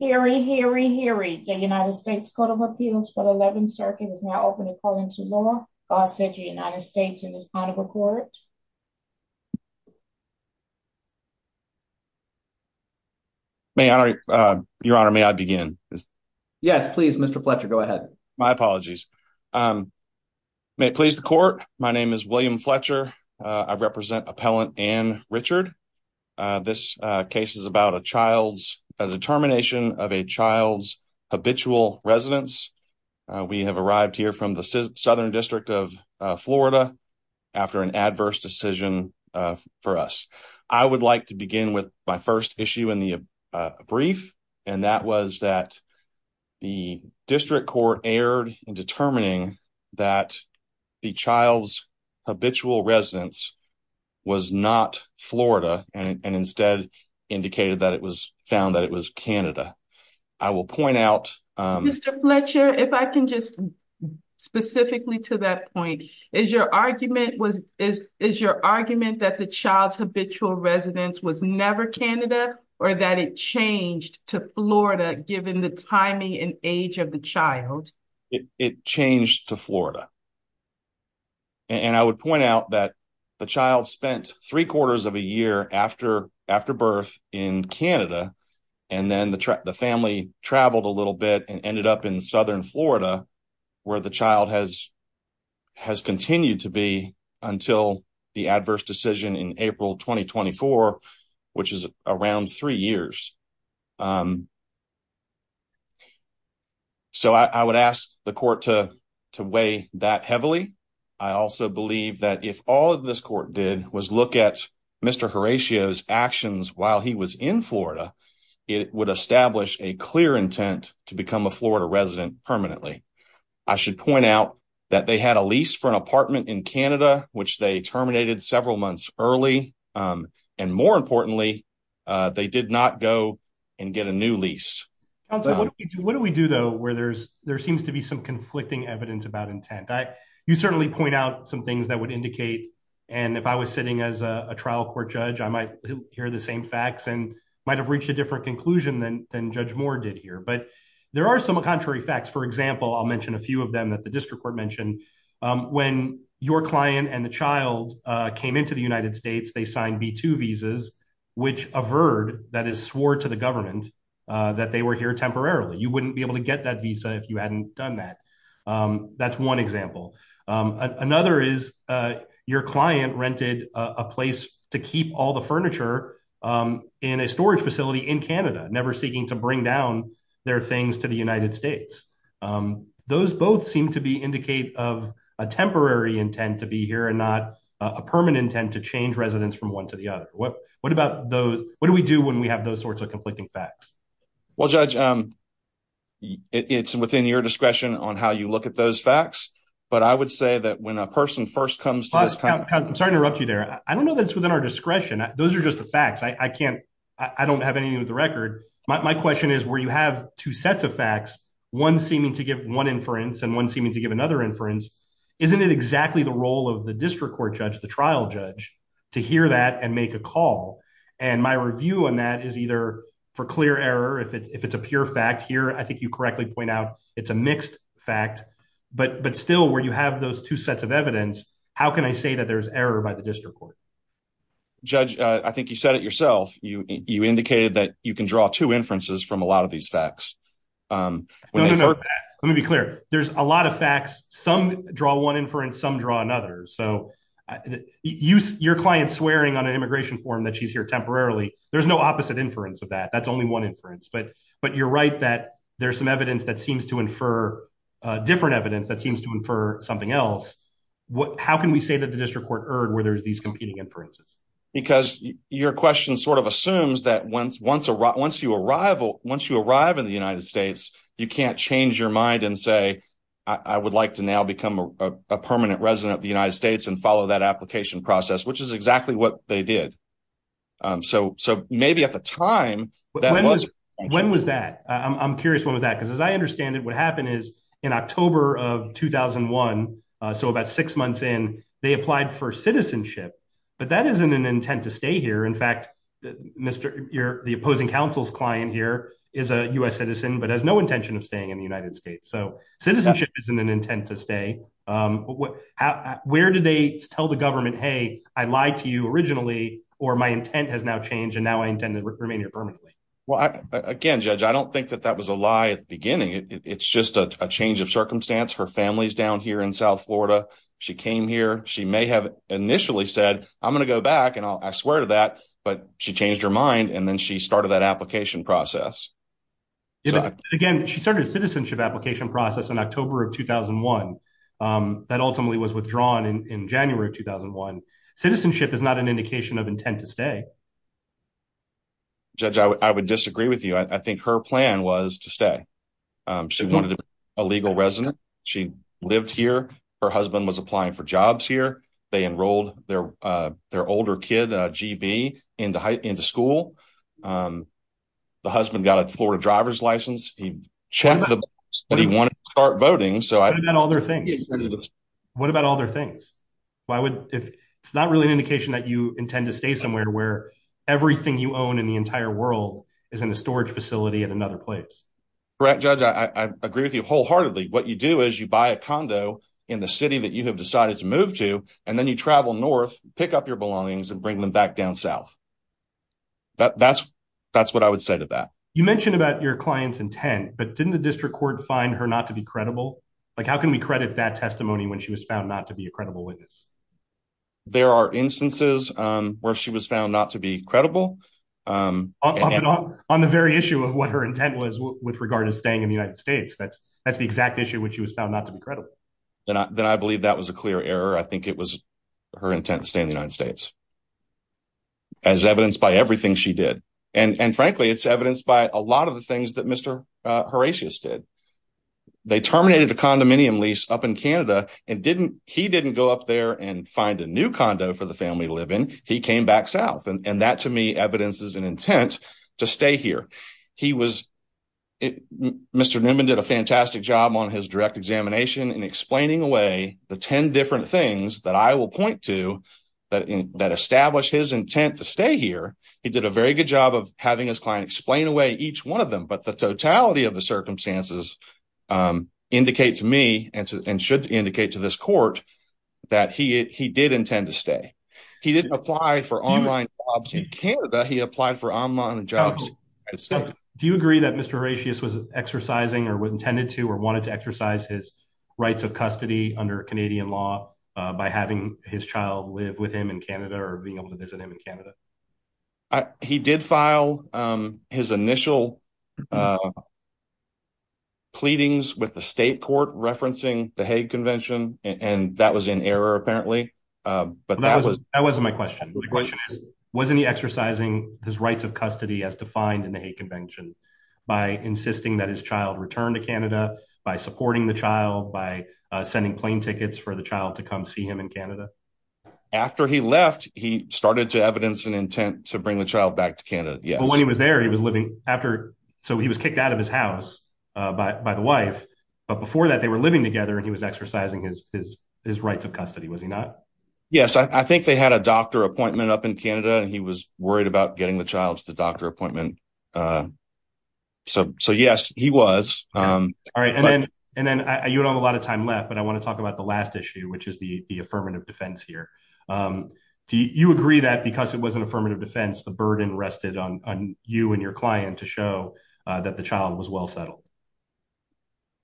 Hear ye, hear ye, hear ye. The United States Court of Appeals for the 11th Circuit is now open according to law. Bossage, United States, in this kind of a court. May I, Your Honor, may I begin? Yes, please, Mr. Fletcher, go ahead. My apologies. May it please the court, my name is William Fletcher. I represent Appellant Anne Richard. This case is about a child's determination of a child's habitual residence. We have arrived here from the Southern District of Florida after an adverse decision for us. I would like to begin with my first issue in the brief, and that was that the district court erred in determining that the child's habitual residence was not Florida and instead indicated that it was found that it was Canada. Mr. Fletcher, if I can just specifically to that point, is your argument that the child's habitual residence was never Canada or that it changed to Florida given the timing and age of the child? It changed to Florida. And I would point out that the child spent three quarters of a year after birth in Canada, and then the family traveled a little bit and ended up in Southern Florida, where the child has continued to be until the adverse decision in April 2024, which is around three years. So I would ask the court to weigh that heavily. I also believe that if all of this court did was look at Mr. Horatio's actions while he was in Florida, it would establish a clear intent to become a Florida resident permanently. I should point out that they had a lease for an apartment in Canada, which they terminated several months early. And more importantly, they did not go and get a new lease. What do we do, though, where there seems to be some conflicting evidence about intent? You certainly point out some things that would indicate, and if I was sitting as a trial court judge, I might hear the same facts and might have reached a different conclusion than Judge Moore did here. But there are some contrary facts. For example, I'll mention a few of them that the district court mentioned. When your client and the child came into the United States, they signed B-2 visas, which averred, that is, swore to the government that they were here temporarily. You wouldn't be able to get that visa if you hadn't done that. That's one example. Another is your client rented a place to keep all the furniture in a storage facility in Canada, never seeking to bring down their things to the United States. Those both seem to indicate a temporary intent to be here and not a permanent intent to change residents from one to the other. What do we do when we have those sorts of conflicting facts? Well, Judge, it's within your discretion on how you look at those facts, but I would say that when a person first comes to this court… I'm sorry to interrupt you there. I don't know that it's within our discretion. Those are just the facts. I don't have anything with the record. My question is, where you have two sets of facts, one seeming to give one inference and one seeming to give another inference, isn't it exactly the role of the district court judge, the trial judge, to hear that and make a call? And my review on that is either for clear error, if it's a pure fact. Here, I think you correctly point out it's a mixed fact. But still, where you have those two sets of evidence, how can I say that there's error by the district court? Judge, I think you said it yourself. You indicated that you can draw two inferences from a lot of these facts. Let me be clear. There's a lot of facts. Some draw one inference, some draw another. So your client swearing on an immigration form that she's here temporarily, there's no opposite inference of that. That's only one inference. But you're right that there's some evidence that seems to infer different evidence that seems to infer something else. How can we say that the district court erred where there's these competing inferences? Because your question sort of assumes that once you arrive in the United States, you can't change your mind and say, I would like to now become a permanent resident of the United States and follow that application process, which is exactly what they did. So maybe at the time, that wasn't the case. When was that? I'm curious when was that? Because as I understand it, what happened is in October of 2001, so about six months in, they applied for citizenship. But that isn't an intent to stay here. In fact, the opposing counsel's client here is a U.S. citizen but has no intention of staying in the United States. So citizenship isn't an intent to stay. Where did they tell the government, hey, I lied to you originally or my intent has now changed and now I intend to remain here permanently? Well, again, Judge, I don't think that that was a lie at the beginning. It's just a change of circumstance. Her family's down here in South Florida. She came here. She may have initially said, I'm going to go back, and I swear to that, but she changed her mind and then she started that application process. Again, she started a citizenship application process in October of 2001 that ultimately was withdrawn in January of 2001. Citizenship is not an indication of intent to stay. Judge, I would disagree with you. I think her plan was to stay. She wanted to be a legal resident. She lived here. Her husband was applying for jobs here. They enrolled their older kid, GB, into school. The husband got a Florida driver's license. He checked the box that he wanted to start voting. What about all their things? What about all their things? It's not really an indication that you intend to stay somewhere where everything you own in the entire world is in a storage facility at another place. Correct, Judge. I agree with you wholeheartedly. What you do is you buy a condo in the city that you have decided to move to, and then you travel north, pick up your belongings, and bring them back down south. That's what I would say to that. You mentioned about your client's intent, but didn't the district court find her not to be credible? Like, how can we credit that testimony when she was found not to be a credible witness? There are instances where she was found not to be credible. On the very issue of what her intent was with regard to staying in the United States. That's the exact issue when she was found not to be credible. Then I believe that was a clear error. I think it was her intent to stay in the United States, as evidenced by everything she did. And frankly, it's evidenced by a lot of the things that Mr. Horatius did. They terminated a condominium lease up in Canada, and he didn't go up there and find a new condo for the family to live in. He came back south. And that, to me, evidences an intent to stay here. Mr. Newman did a fantastic job on his direct examination in explaining away the 10 different things that I will point to that establish his intent to stay here. He did a very good job of having his client explain away each one of them, but the totality of the circumstances indicate to me, and should indicate to this court, that he did intend to stay. He didn't apply for online jobs in Canada, he applied for online jobs in the United States. He did file his initial pleadings with the state court referencing the Hague Convention, and that was in error, apparently. That wasn't my question. The question is, wasn't he exercising his rights of custody as defined in the Hague Convention by insisting that his child return to Canada, by supporting the child, by sending plane tickets for the child to come see him in Canada? After he left, he started to evidence an intent to bring the child back to Canada, yes. But when he was there, he was living after, so he was kicked out of his house by the wife, but before that they were living together and he was exercising his rights of custody, was he not? Yes, I think they had a doctor appointment up in Canada and he was worried about getting the child to the doctor appointment. So yes, he was. You don't have a lot of time left, but I want to talk about the last issue, which is the affirmative defense here. Do you agree that because it was an affirmative defense, the burden rested on you and your client to show that the child was well settled?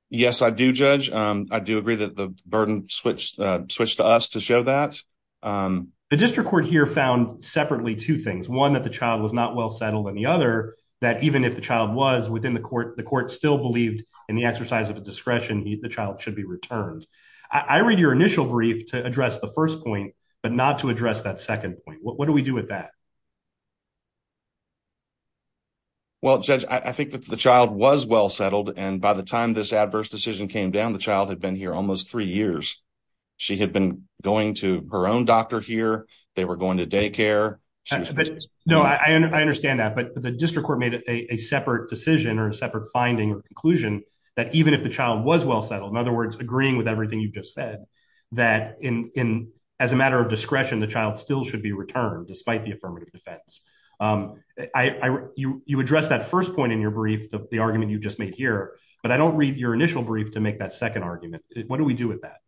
Yes, I do judge. I do agree that the burden switched to us to show that. The district court here found separately two things. One, that the child was not well settled and the other, that even if the child was within the court, the court still believed in the exercise of a discretion, the child should be returned. I read your initial brief to address the first point, but not to address that second point. What do we do with that? Well, judge, I think that the child was well settled. And by the time this adverse decision came down, the child had been here almost three years. She had been going to her own doctor here. They were going to daycare. No, I understand that. But the district court made a separate decision or a separate finding or conclusion that even if the child was well settled, in other words, agreeing with everything you've just said, that in as a matter of discretion, the child still should be returned despite the affirmative defense. You addressed that first point in your brief, the argument you just made here, but I don't read your initial brief to make that second argument. What do we do with that?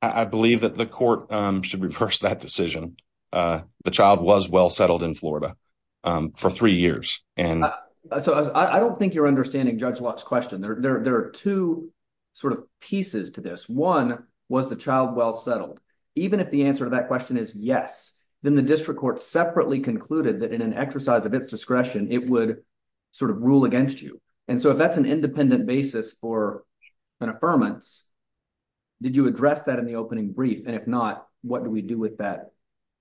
I believe that the court should reverse that decision. The child was well settled in Florida for three years. So I don't think you're understanding Judge Locke's question. There are two sort of pieces to this. One, was the child well settled? Even if the answer to that question is yes, then the district court separately concluded that in an exercise of its discretion, it would sort of rule against you. And so if that's an independent basis for an affirmance, did you address that in the opening brief? And if not, what do we do with that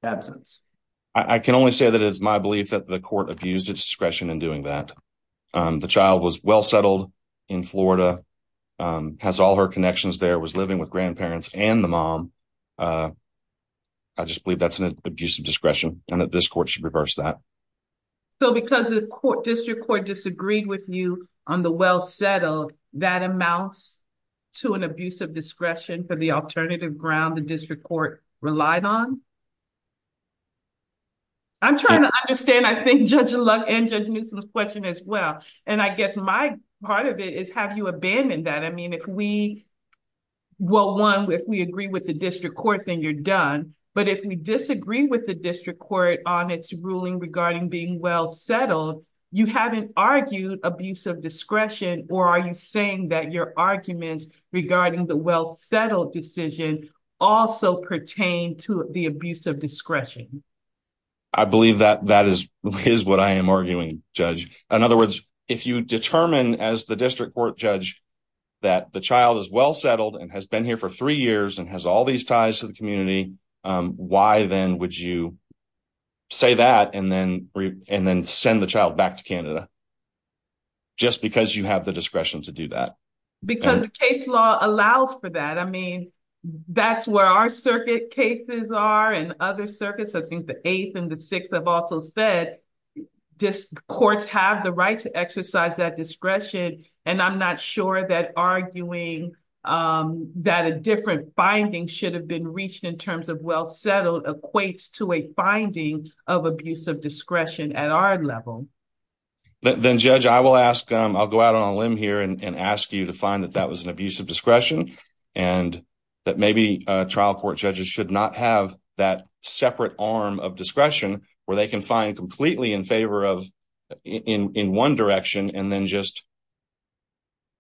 absence? I can only say that it's my belief that the court abused its discretion in doing that. The child was well settled in Florida, has all her connections there, was living with grandparents and the mom. I just believe that's an abuse of discretion and that this court should reverse that. So because the district court disagreed with you on the well settled, that amounts to an abuse of discretion for the alternative ground the district court relied on? I'm trying to understand, I think, Judge Locke and Judge Newsom's question as well. And I guess my part of it is have you abandoned that? Well, one, if we agree with the district court, then you're done. But if we disagree with the district court on its ruling regarding being well settled, you haven't argued abuse of discretion? Or are you saying that your arguments regarding the well settled decision also pertain to the abuse of discretion? I believe that that is what I am arguing, Judge. In other words, if you determine as the district court judge that the child is well settled and has been here for three years and has all these ties to the community, why then would you say that and then send the child back to Canada? Just because you have the discretion to do that? Because the case law allows for that. I mean, that's where our circuit cases are and other circuits. I think the 8th and the 6th have also said courts have the right to exercise that discretion. And I'm not sure that arguing that a different finding should have been reached in terms of well settled equates to a finding of abuse of discretion at our level. Then, Judge, I will ask, I'll go out on a limb here and ask you to find that that was an abuse of discretion and that maybe trial court judges should not have that separate arm of discretion where they can find completely in favor of in one direction and then just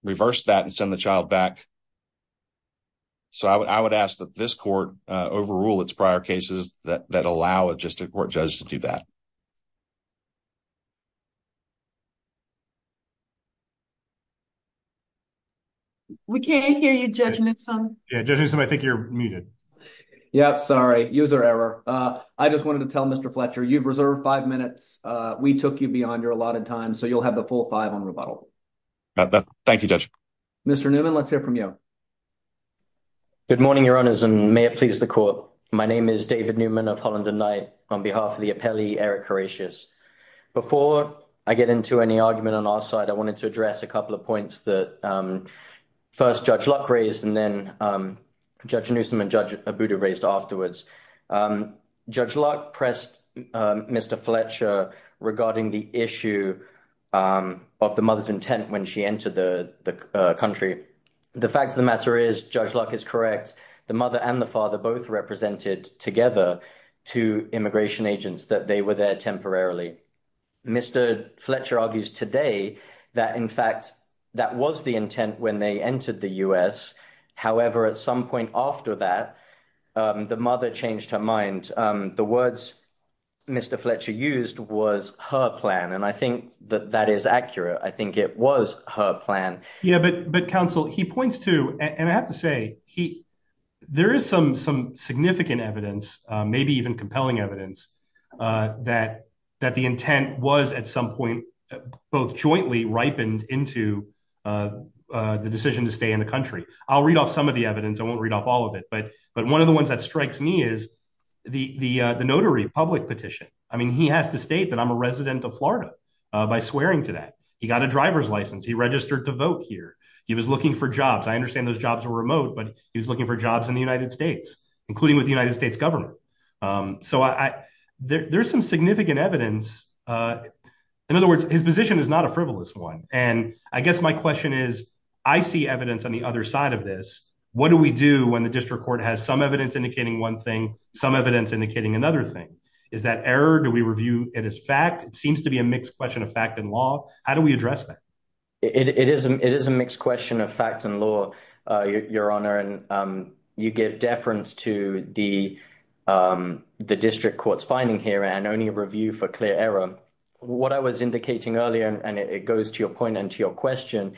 reverse that and send the child back. So, I would ask that this court overrule its prior cases that allow a district court judge to do that. We can't hear you, Judge Newsome. Yeah, Judge Newsome, I think you're muted. Yeah, sorry. User error. I just wanted to tell Mr. Fletcher, you've reserved five minutes. We took you beyond your allotted time, so you'll have the full five on rebuttal. Thank you, Judge. Mr. Newman, let's hear from you. Good morning, Your Honors, and may it please the court. My name is David Newman of Holland and Knight on behalf of the appellee, Eric Coratius. Before I get into any argument on our side, I wanted to address a couple of points that first Judge Luck raised and then Judge Newsome and Judge Abuda raised afterwards. Judge Luck pressed Mr. Fletcher regarding the issue of the mother's intent when she entered the country. The fact of the matter is, Judge Luck is correct. The mother and the father both represented together to immigration agents that they were there temporarily. Mr. Fletcher argues today that, in fact, that was the intent when they entered the U.S. However, at some point after that, the mother changed her mind. The words Mr. Fletcher used was her plan, and I think that that is accurate. I think it was her plan. Yeah, but counsel, he points to, and I have to say, there is some significant evidence, maybe even compelling evidence, that the intent was at some point both jointly ripened into the decision to stay in the country. I'll read off some of the evidence. I won't read off all of it, but one of the ones that strikes me is the notary public petition. I mean, he has to state that I'm a resident of Florida by swearing to that. He got a driver's license. He registered to vote here. He was looking for jobs. I understand those jobs are remote, but he was looking for jobs in the United States, including with the United States government. So there's some significant evidence. In other words, his position is not a frivolous one, and I guess my question is, I see evidence on the other side of this. What do we do when the district court has some evidence indicating one thing, some evidence indicating another thing? Is that error? Do we review it as fact? It seems to be a mixed question of fact and law. How do we address that? It is a mixed question of fact and law, Your Honor, and you give deference to the district court's finding here and only review for clear error. What I was indicating earlier, and it goes to your point and to your question,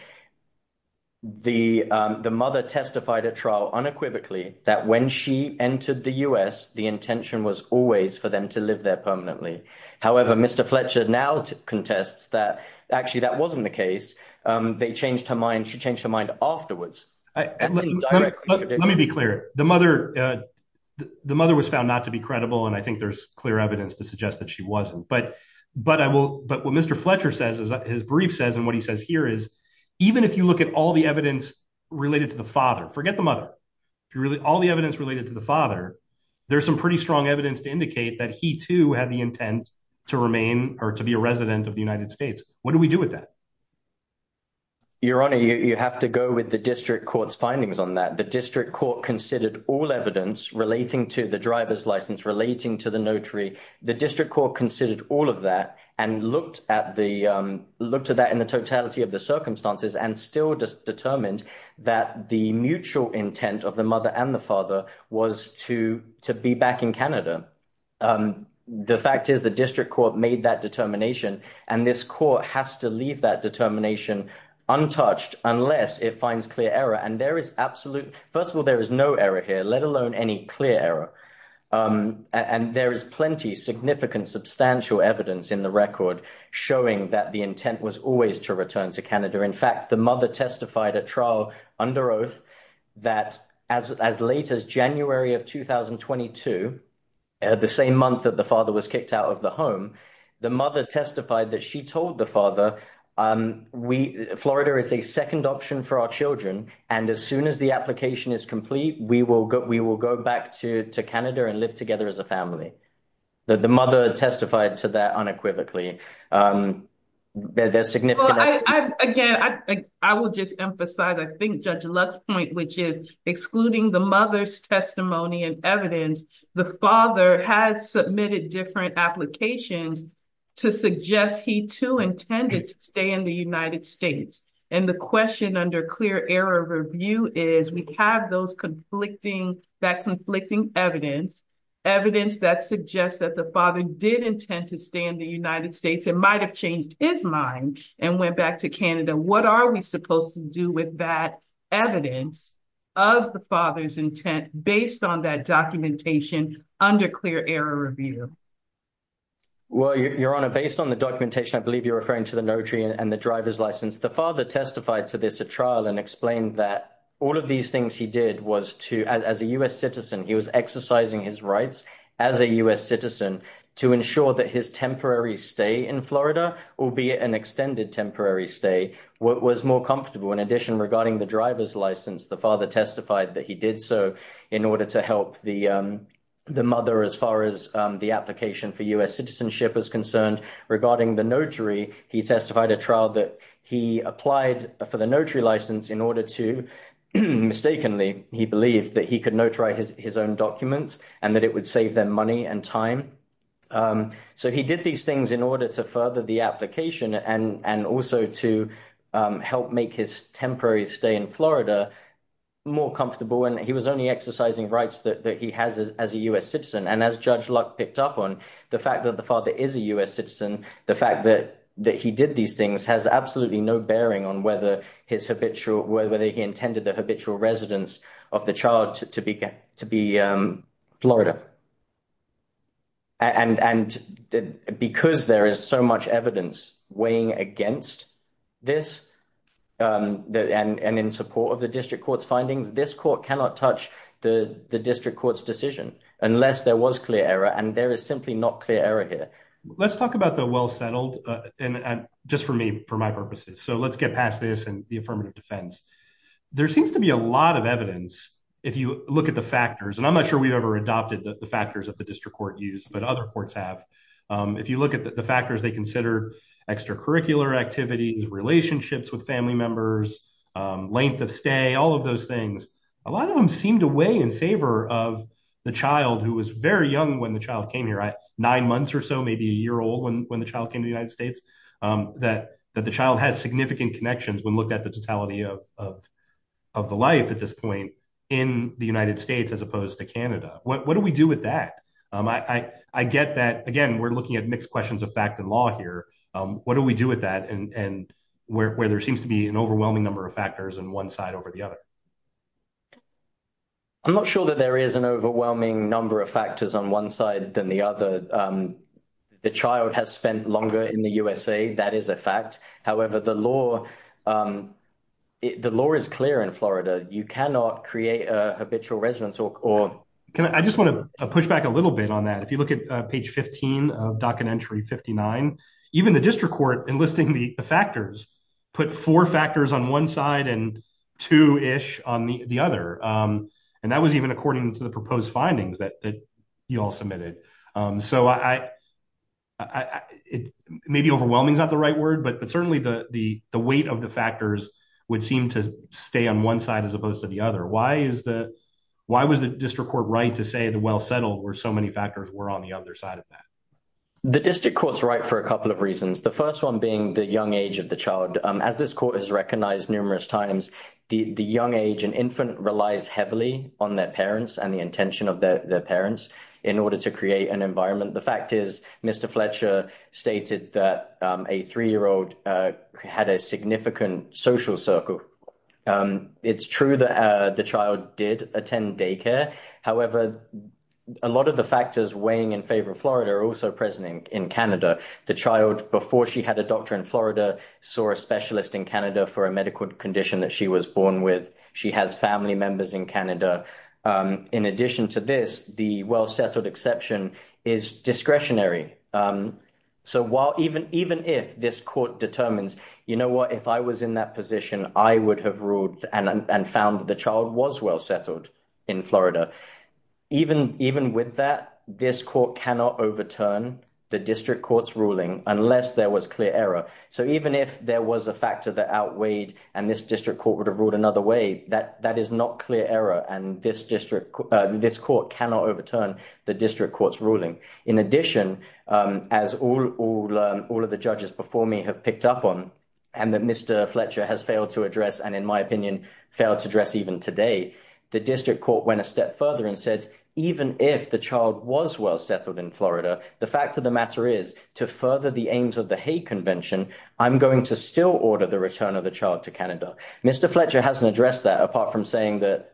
the mother testified at trial unequivocally that when she entered the U.S., the intention was always for them to live there permanently. However, Mr. Fletcher now contests that actually that wasn't the case. They changed her mind. She changed her mind afterwards. Let me be clear. The mother was found not to be credible, and I think there's clear evidence to suggest that she wasn't. But what Mr. Fletcher says, his brief says, and what he says here is, even if you look at all the evidence related to the father, forget the mother, all the evidence related to the father, there's some pretty strong evidence to indicate that he, too, had the intent to remain or to be a resident of the United States. What do we do with that? Your Honor, you have to go with the district court's findings on that. The district court considered all evidence relating to the driver's license, relating to the notary. The district court considered all of that and looked at that in the totality of the circumstances and still determined that the mutual intent of the mother and the father was to be back in Canada. The fact is the district court made that determination and this court has to leave that determination untouched unless it finds clear error. And there is absolute, first of all, there is no error here, let alone any clear error. And there is plenty, significant, substantial evidence in the record showing that the intent was always to return to Canada. In fact, the mother testified at trial under oath that as late as January of 2022, the same month that the father was kicked out of the home, the mother testified that she told the father, Florida is a second option for our children, and as soon as the application is complete, we will go back to Canada and live together as a family. The mother testified to that unequivocally. There's significant evidence. Again, I will just emphasize, I think Judge Lux's point, which is excluding the mother's testimony and evidence, the father had submitted different applications to suggest he too intended to stay in the United States. And the question under clear error review is we have that conflicting evidence, evidence that suggests that the father did intend to stay in the United States and might have changed his mind and went back to Canada. What are we supposed to do with that evidence of the father's intent based on that documentation under clear error review? Well, Your Honor, based on the documentation, I believe you're referring to the notary and the driver's license. The father testified to this at trial and explained that all of these things he did was to, as a U.S. citizen, he was exercising his rights as a U.S. citizen to ensure that his temporary stay in Florida, albeit an extended temporary stay, was more comfortable. In addition, regarding the driver's license, the father testified that he did so in order to help the mother as far as the application for U.S. citizenship is concerned. Regarding the notary, he testified at trial that he applied for the notary license in order to, mistakenly, he believed that he could notary his own documents and that it would save them money and time. So he did these things in order to further the application and also to help make his temporary stay in Florida more comfortable. And he was only exercising rights that he has as a U.S. citizen. And as Judge Luck picked up on, the fact that the father is a U.S. citizen, the fact that he did these things has absolutely no bearing on whether he intended the habitual residence of the child to be Florida. And because there is so much evidence weighing against this and in support of the district court's findings, this court cannot touch the district court's decision unless there was clear error. And there is simply not clear error here. Let's talk about the well-settled, just for me, for my purposes. So let's get past this and the affirmative defense. There seems to be a lot of evidence, if you look at the factors, and I'm not sure we've ever adopted the factors that the district court used, but other courts have. If you look at the factors, they consider extracurricular activities, relationships with family members, length of stay, all of those things. A lot of them seem to weigh in favor of the child who was very young when the child came here, nine months or so, maybe a year old when the child came to the United States, that the child has significant connections when looked at the totality of the life at this point in the United States as opposed to Canada. What do we do with that? I get that, again, we're looking at mixed questions of fact and law here. What do we do with that and where there seems to be an overwhelming number of factors on one side over the other? I'm not sure that there is an overwhelming number of factors on one side than the other. The child has spent longer in the USA. That is a fact. However, the law is clear in Florida. You cannot create a habitual residence. I just want to push back a little bit on that. If you look at page 15 of docket entry 59, even the district court enlisting the factors put four factors on one side and two-ish on the other. That was even according to the proposed findings that you all submitted. Maybe overwhelming is not the right word, but certainly the weight of the factors would seem to stay on one side as opposed to the other. Why was the district court right to say the well settled where so many factors were on the other side of that? The district court's right for a couple of reasons. The first one being the young age of the child. As this court has recognized numerous times, the young age and infant relies heavily on their parents and the intention of their parents in order to create an environment. The fact is Mr. Fletcher stated that a three-year-old had a significant social circle. It's true that the child did attend daycare. However, a lot of the factors weighing in favor of Florida are also present in Canada. The child, before she had a doctor in Florida, saw a specialist in Canada for a medical condition that she was born with. She has family members in Canada. In addition to this, the well settled exception is discretionary. So even if this court determines, you know what, if I was in that position, I would have ruled and found that the child was well settled in Florida. Even with that, this court cannot overturn the district court's ruling unless there was clear error. So even if there was a factor that outweighed and this district court would have ruled another way, that is not clear error and this court cannot overturn the district court's ruling. In addition, as all of the judges before me have picked up on and that Mr. Fletcher has failed to address and in my opinion failed to address even today, the district court went a step further and said even if the child was well settled in Florida, the fact of the matter is to further the aims of the hate convention, I'm going to still order the return of the child to Canada. Mr. Fletcher hasn't addressed that apart from saying that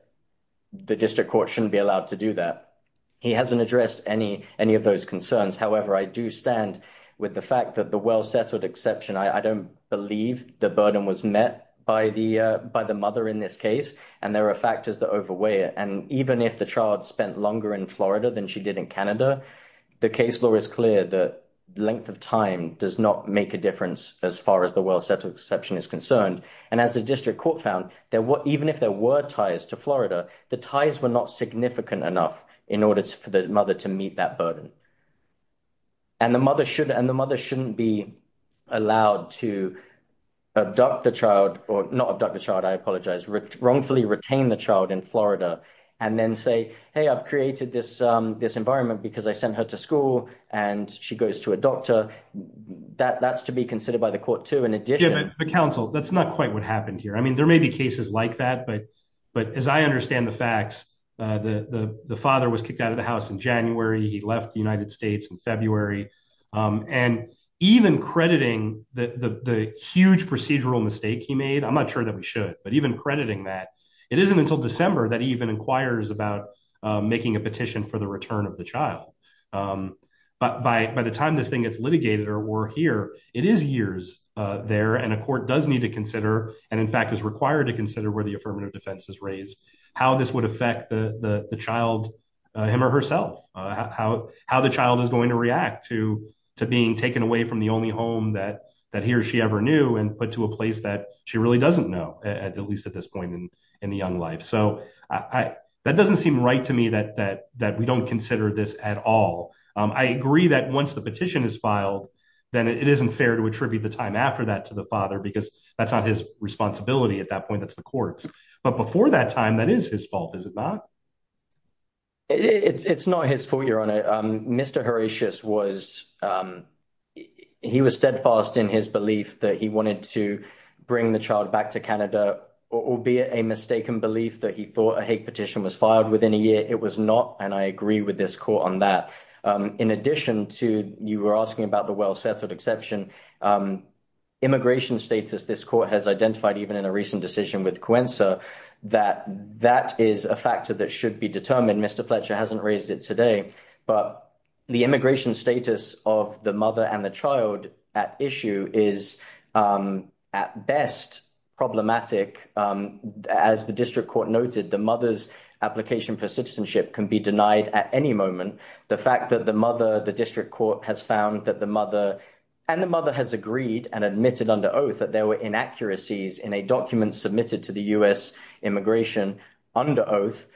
the district court shouldn't be allowed to do that. He hasn't addressed any of those concerns. However, I do stand with the fact that the well settled exception, I don't believe the burden was met by the mother in this case and there are factors that overweigh it. And even if the child spent longer in Florida than she did in Canada, the case law is clear that length of time does not make a difference as far as the well settled exception is concerned. And as the district court found, even if there were ties to Florida, the ties were not significant enough in order for the mother to meet that burden. And the mother shouldn't be allowed to abduct the child or not abduct the child, I apologize, wrongfully retain the child in Florida and then say, hey, I've created this environment because I sent her to school and she goes to a doctor. That's to be considered by the court to in addition. But counsel, that's not quite what happened here. I mean, there may be cases like that, but but as I understand the facts, the father was kicked out of the house in January. He left the United States in February and even crediting the huge procedural mistake he made. I'm not sure that we should, but even crediting that it isn't until December that even inquires about making a petition for the return of the child. But by the time this thing gets litigated or we're here, it is years there and a court does need to consider. And in fact, is required to consider where the affirmative defense is raised, how this would affect the child him or herself, how how the child is going to react to to being taken away from the only home that that he or she ever knew and put to a place that she really doesn't know, at least at this point in the young life. So I that doesn't seem right to me that that that we don't consider this at all. I agree that once the petition is filed, then it isn't fair to attribute the time after that to the father, because that's not his responsibility at that point. That's the courts. But before that time, that is his fault, is it not? It's not his fault, your honor. Mr. Horatius was he was steadfast in his belief that he wanted to bring the child back to Canada, albeit a mistaken belief that he thought a hate petition was filed within a year. It was not. And I agree with this court on that. In addition to you were asking about the well-settled exception immigration status, this court has identified even in a recent decision with Coensa that that is a factor that should be determined. And Mr. Fletcher hasn't raised it today, but the immigration status of the mother and the child at issue is at best problematic. As the district court noted, the mother's application for citizenship can be denied at any moment. The fact that the mother, the district court has found that the mother and the mother has agreed and admitted under oath that there were inaccuracies in a document submitted to the U.S. immigration under oath.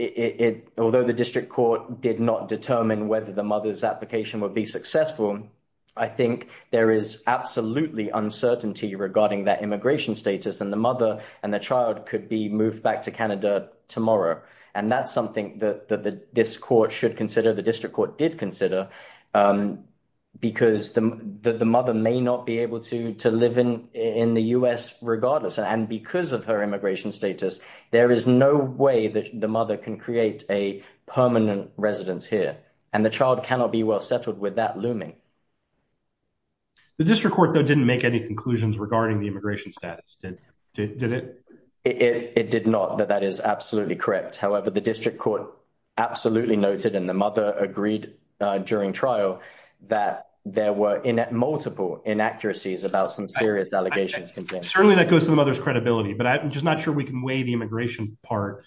It although the district court did not determine whether the mother's application would be successful. I think there is absolutely uncertainty regarding that immigration status and the mother and the child could be moved back to Canada tomorrow. And that's something that this court should consider. The district court did consider because the mother may not be able to to live in in the U.S. regardless. And because of her immigration status, there is no way that the mother can create a permanent residence here and the child cannot be well settled with that looming. The district court, though, didn't make any conclusions regarding the immigration status, did it? It did not. But that is absolutely correct. However, the district court absolutely noted in the mother agreed during trial that there were multiple inaccuracies about some serious allegations. Certainly that goes to the mother's credibility, but I'm just not sure we can weigh the immigration part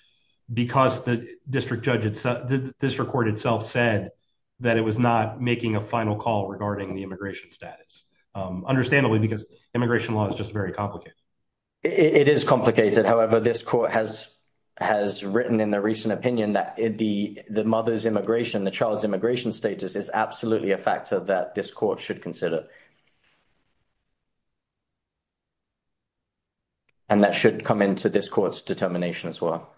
because the district judges, the district court itself said that it was not making a final call regarding the immigration status. Understandably, because immigration law is just very complicated. It is complicated. However, this court has written in the recent opinion that the mother's immigration, the child's immigration status is absolutely a factor that this court should consider. And that should come into this court's determination as well.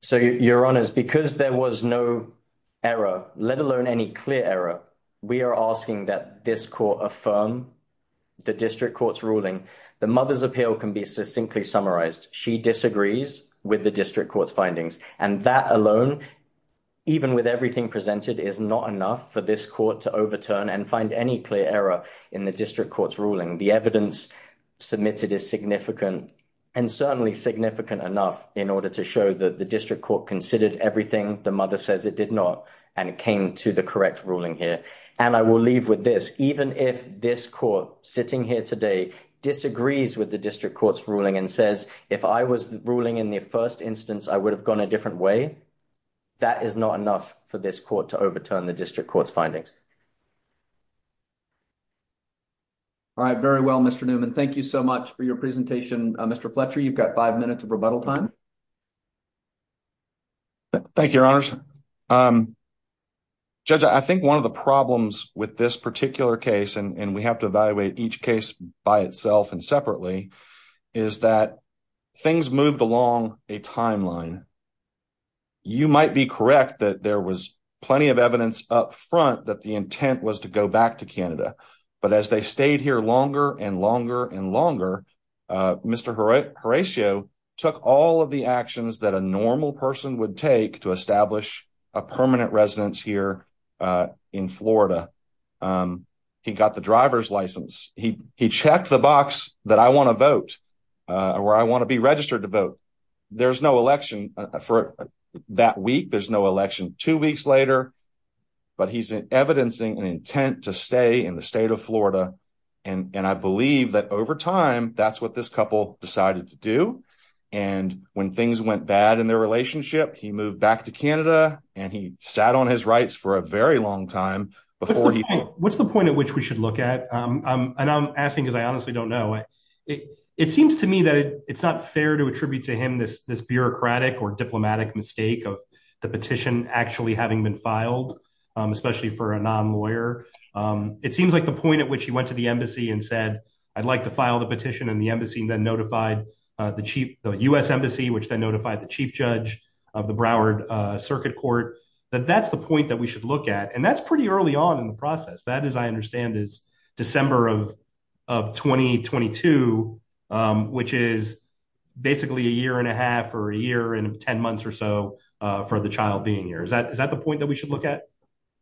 So, your honors, because there was no error, let alone any clear error, we are asking that this court affirm the district court's ruling. The mother's appeal can be succinctly summarized. She disagrees with the district court's findings and that alone, even with everything presented is not enough for this court to overturn and find any clear error in the district court's ruling. The evidence submitted is significant and certainly significant enough in order to show that the district court considered everything the mother says it did not and it came to the correct ruling here. And I will leave with this, even if this court sitting here today disagrees with the district court's ruling and says, if I was ruling in the first instance, I would have gone a different way. That is not enough for this court to overturn the district court's findings. All right, very well, Mr. Newman, thank you so much for your presentation. Mr. Fletcher, you've got five minutes of rebuttal time. Thank you, your honors. Judge, I think one of the problems with this particular case, and we have to evaluate each case by itself and separately, is that things moved along a timeline. You might be correct that there was plenty of evidence up front that the intent was to go back to Canada. But as they stayed here longer and longer and longer, Mr. Horatio took all of the actions that a normal person would take to establish a permanent residence here in Florida. He got the driver's license. He checked the box that I want to vote, where I want to be registered to vote. There's no election for that week. There's no election two weeks later. But he's evidencing an intent to stay in the state of Florida. And I believe that over time, that's what this couple decided to do. And when things went bad in their relationship, he moved back to Canada, and he sat on his rights for a very long time. What's the point at which we should look at? And I'm asking because I honestly don't know. It seems to me that it's not fair to attribute to him this bureaucratic or diplomatic mistake of the petition actually having been filed, especially for a non-lawyer. It seems like the point at which he went to the embassy and said, I'd like to file the petition. And the embassy then notified the chief, the U.S. embassy, which then notified the chief judge of the Broward Circuit Court. That that's the point that we should look at. And that's pretty early on in the process. That, as I understand, is December of 2022, which is basically a year and a half or a year and 10 months or so for the child being here. Is that is that the point that we should look at?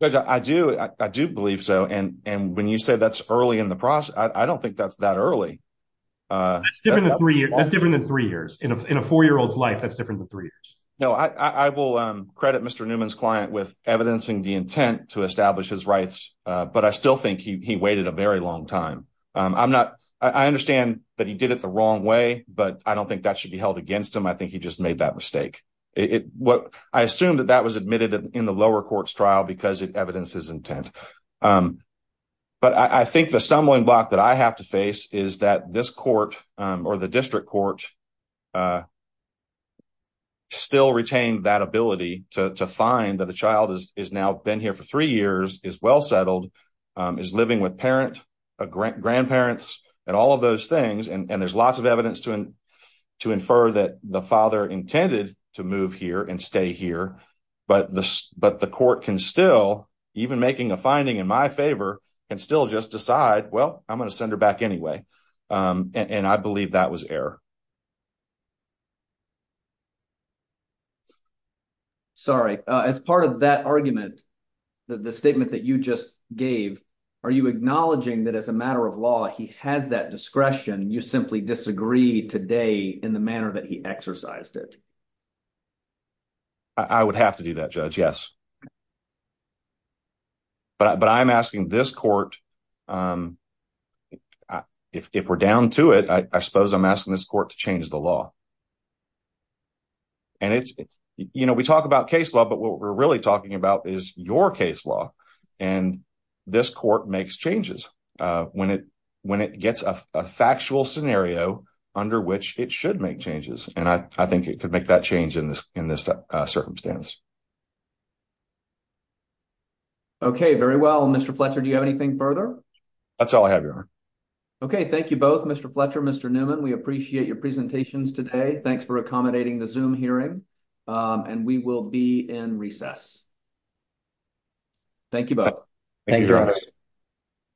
I do. I do believe so. And when you say that's early in the process, I don't think that's that early. Different than three years. That's different than three years in a four year old's life. No, I will credit Mr. Newman's client with evidencing the intent to establish his rights. But I still think he waited a very long time. I'm not I understand that he did it the wrong way, but I don't think that should be held against him. I think he just made that mistake. What I assume that that was admitted in the lower courts trial because it evidences intent. But I think the stumbling block that I have to face is that this court or the district court. Still retain that ability to find that a child is now been here for three years, is well settled, is living with parent, grandparents and all of those things. And there's lots of evidence to to infer that the father intended to move here and stay here. But but the court can still even making a finding in my favor and still just decide, well, I'm going to send her back anyway. And I believe that was error. Sorry, as part of that argument, the statement that you just gave, are you acknowledging that as a matter of law, he has that discretion? You simply disagree today in the manner that he exercised it. I would have to do that, Judge. Yes. But I'm asking this court. If we're down to it, I suppose I'm asking this court to change the law. And it's you know, we talk about case law, but what we're really talking about is your case law. And this court makes changes when it when it gets a factual scenario under which it should make changes. And I think it could make that change in this in this circumstance. Okay, very well, Mr. Fletcher, do you have anything further? That's all I have. Okay, thank you both. Mr. Fletcher. Mr. Newman. We appreciate your presentations today. Thanks for accommodating the zoom hearing and we will be in recess. Thank you both. Thank you.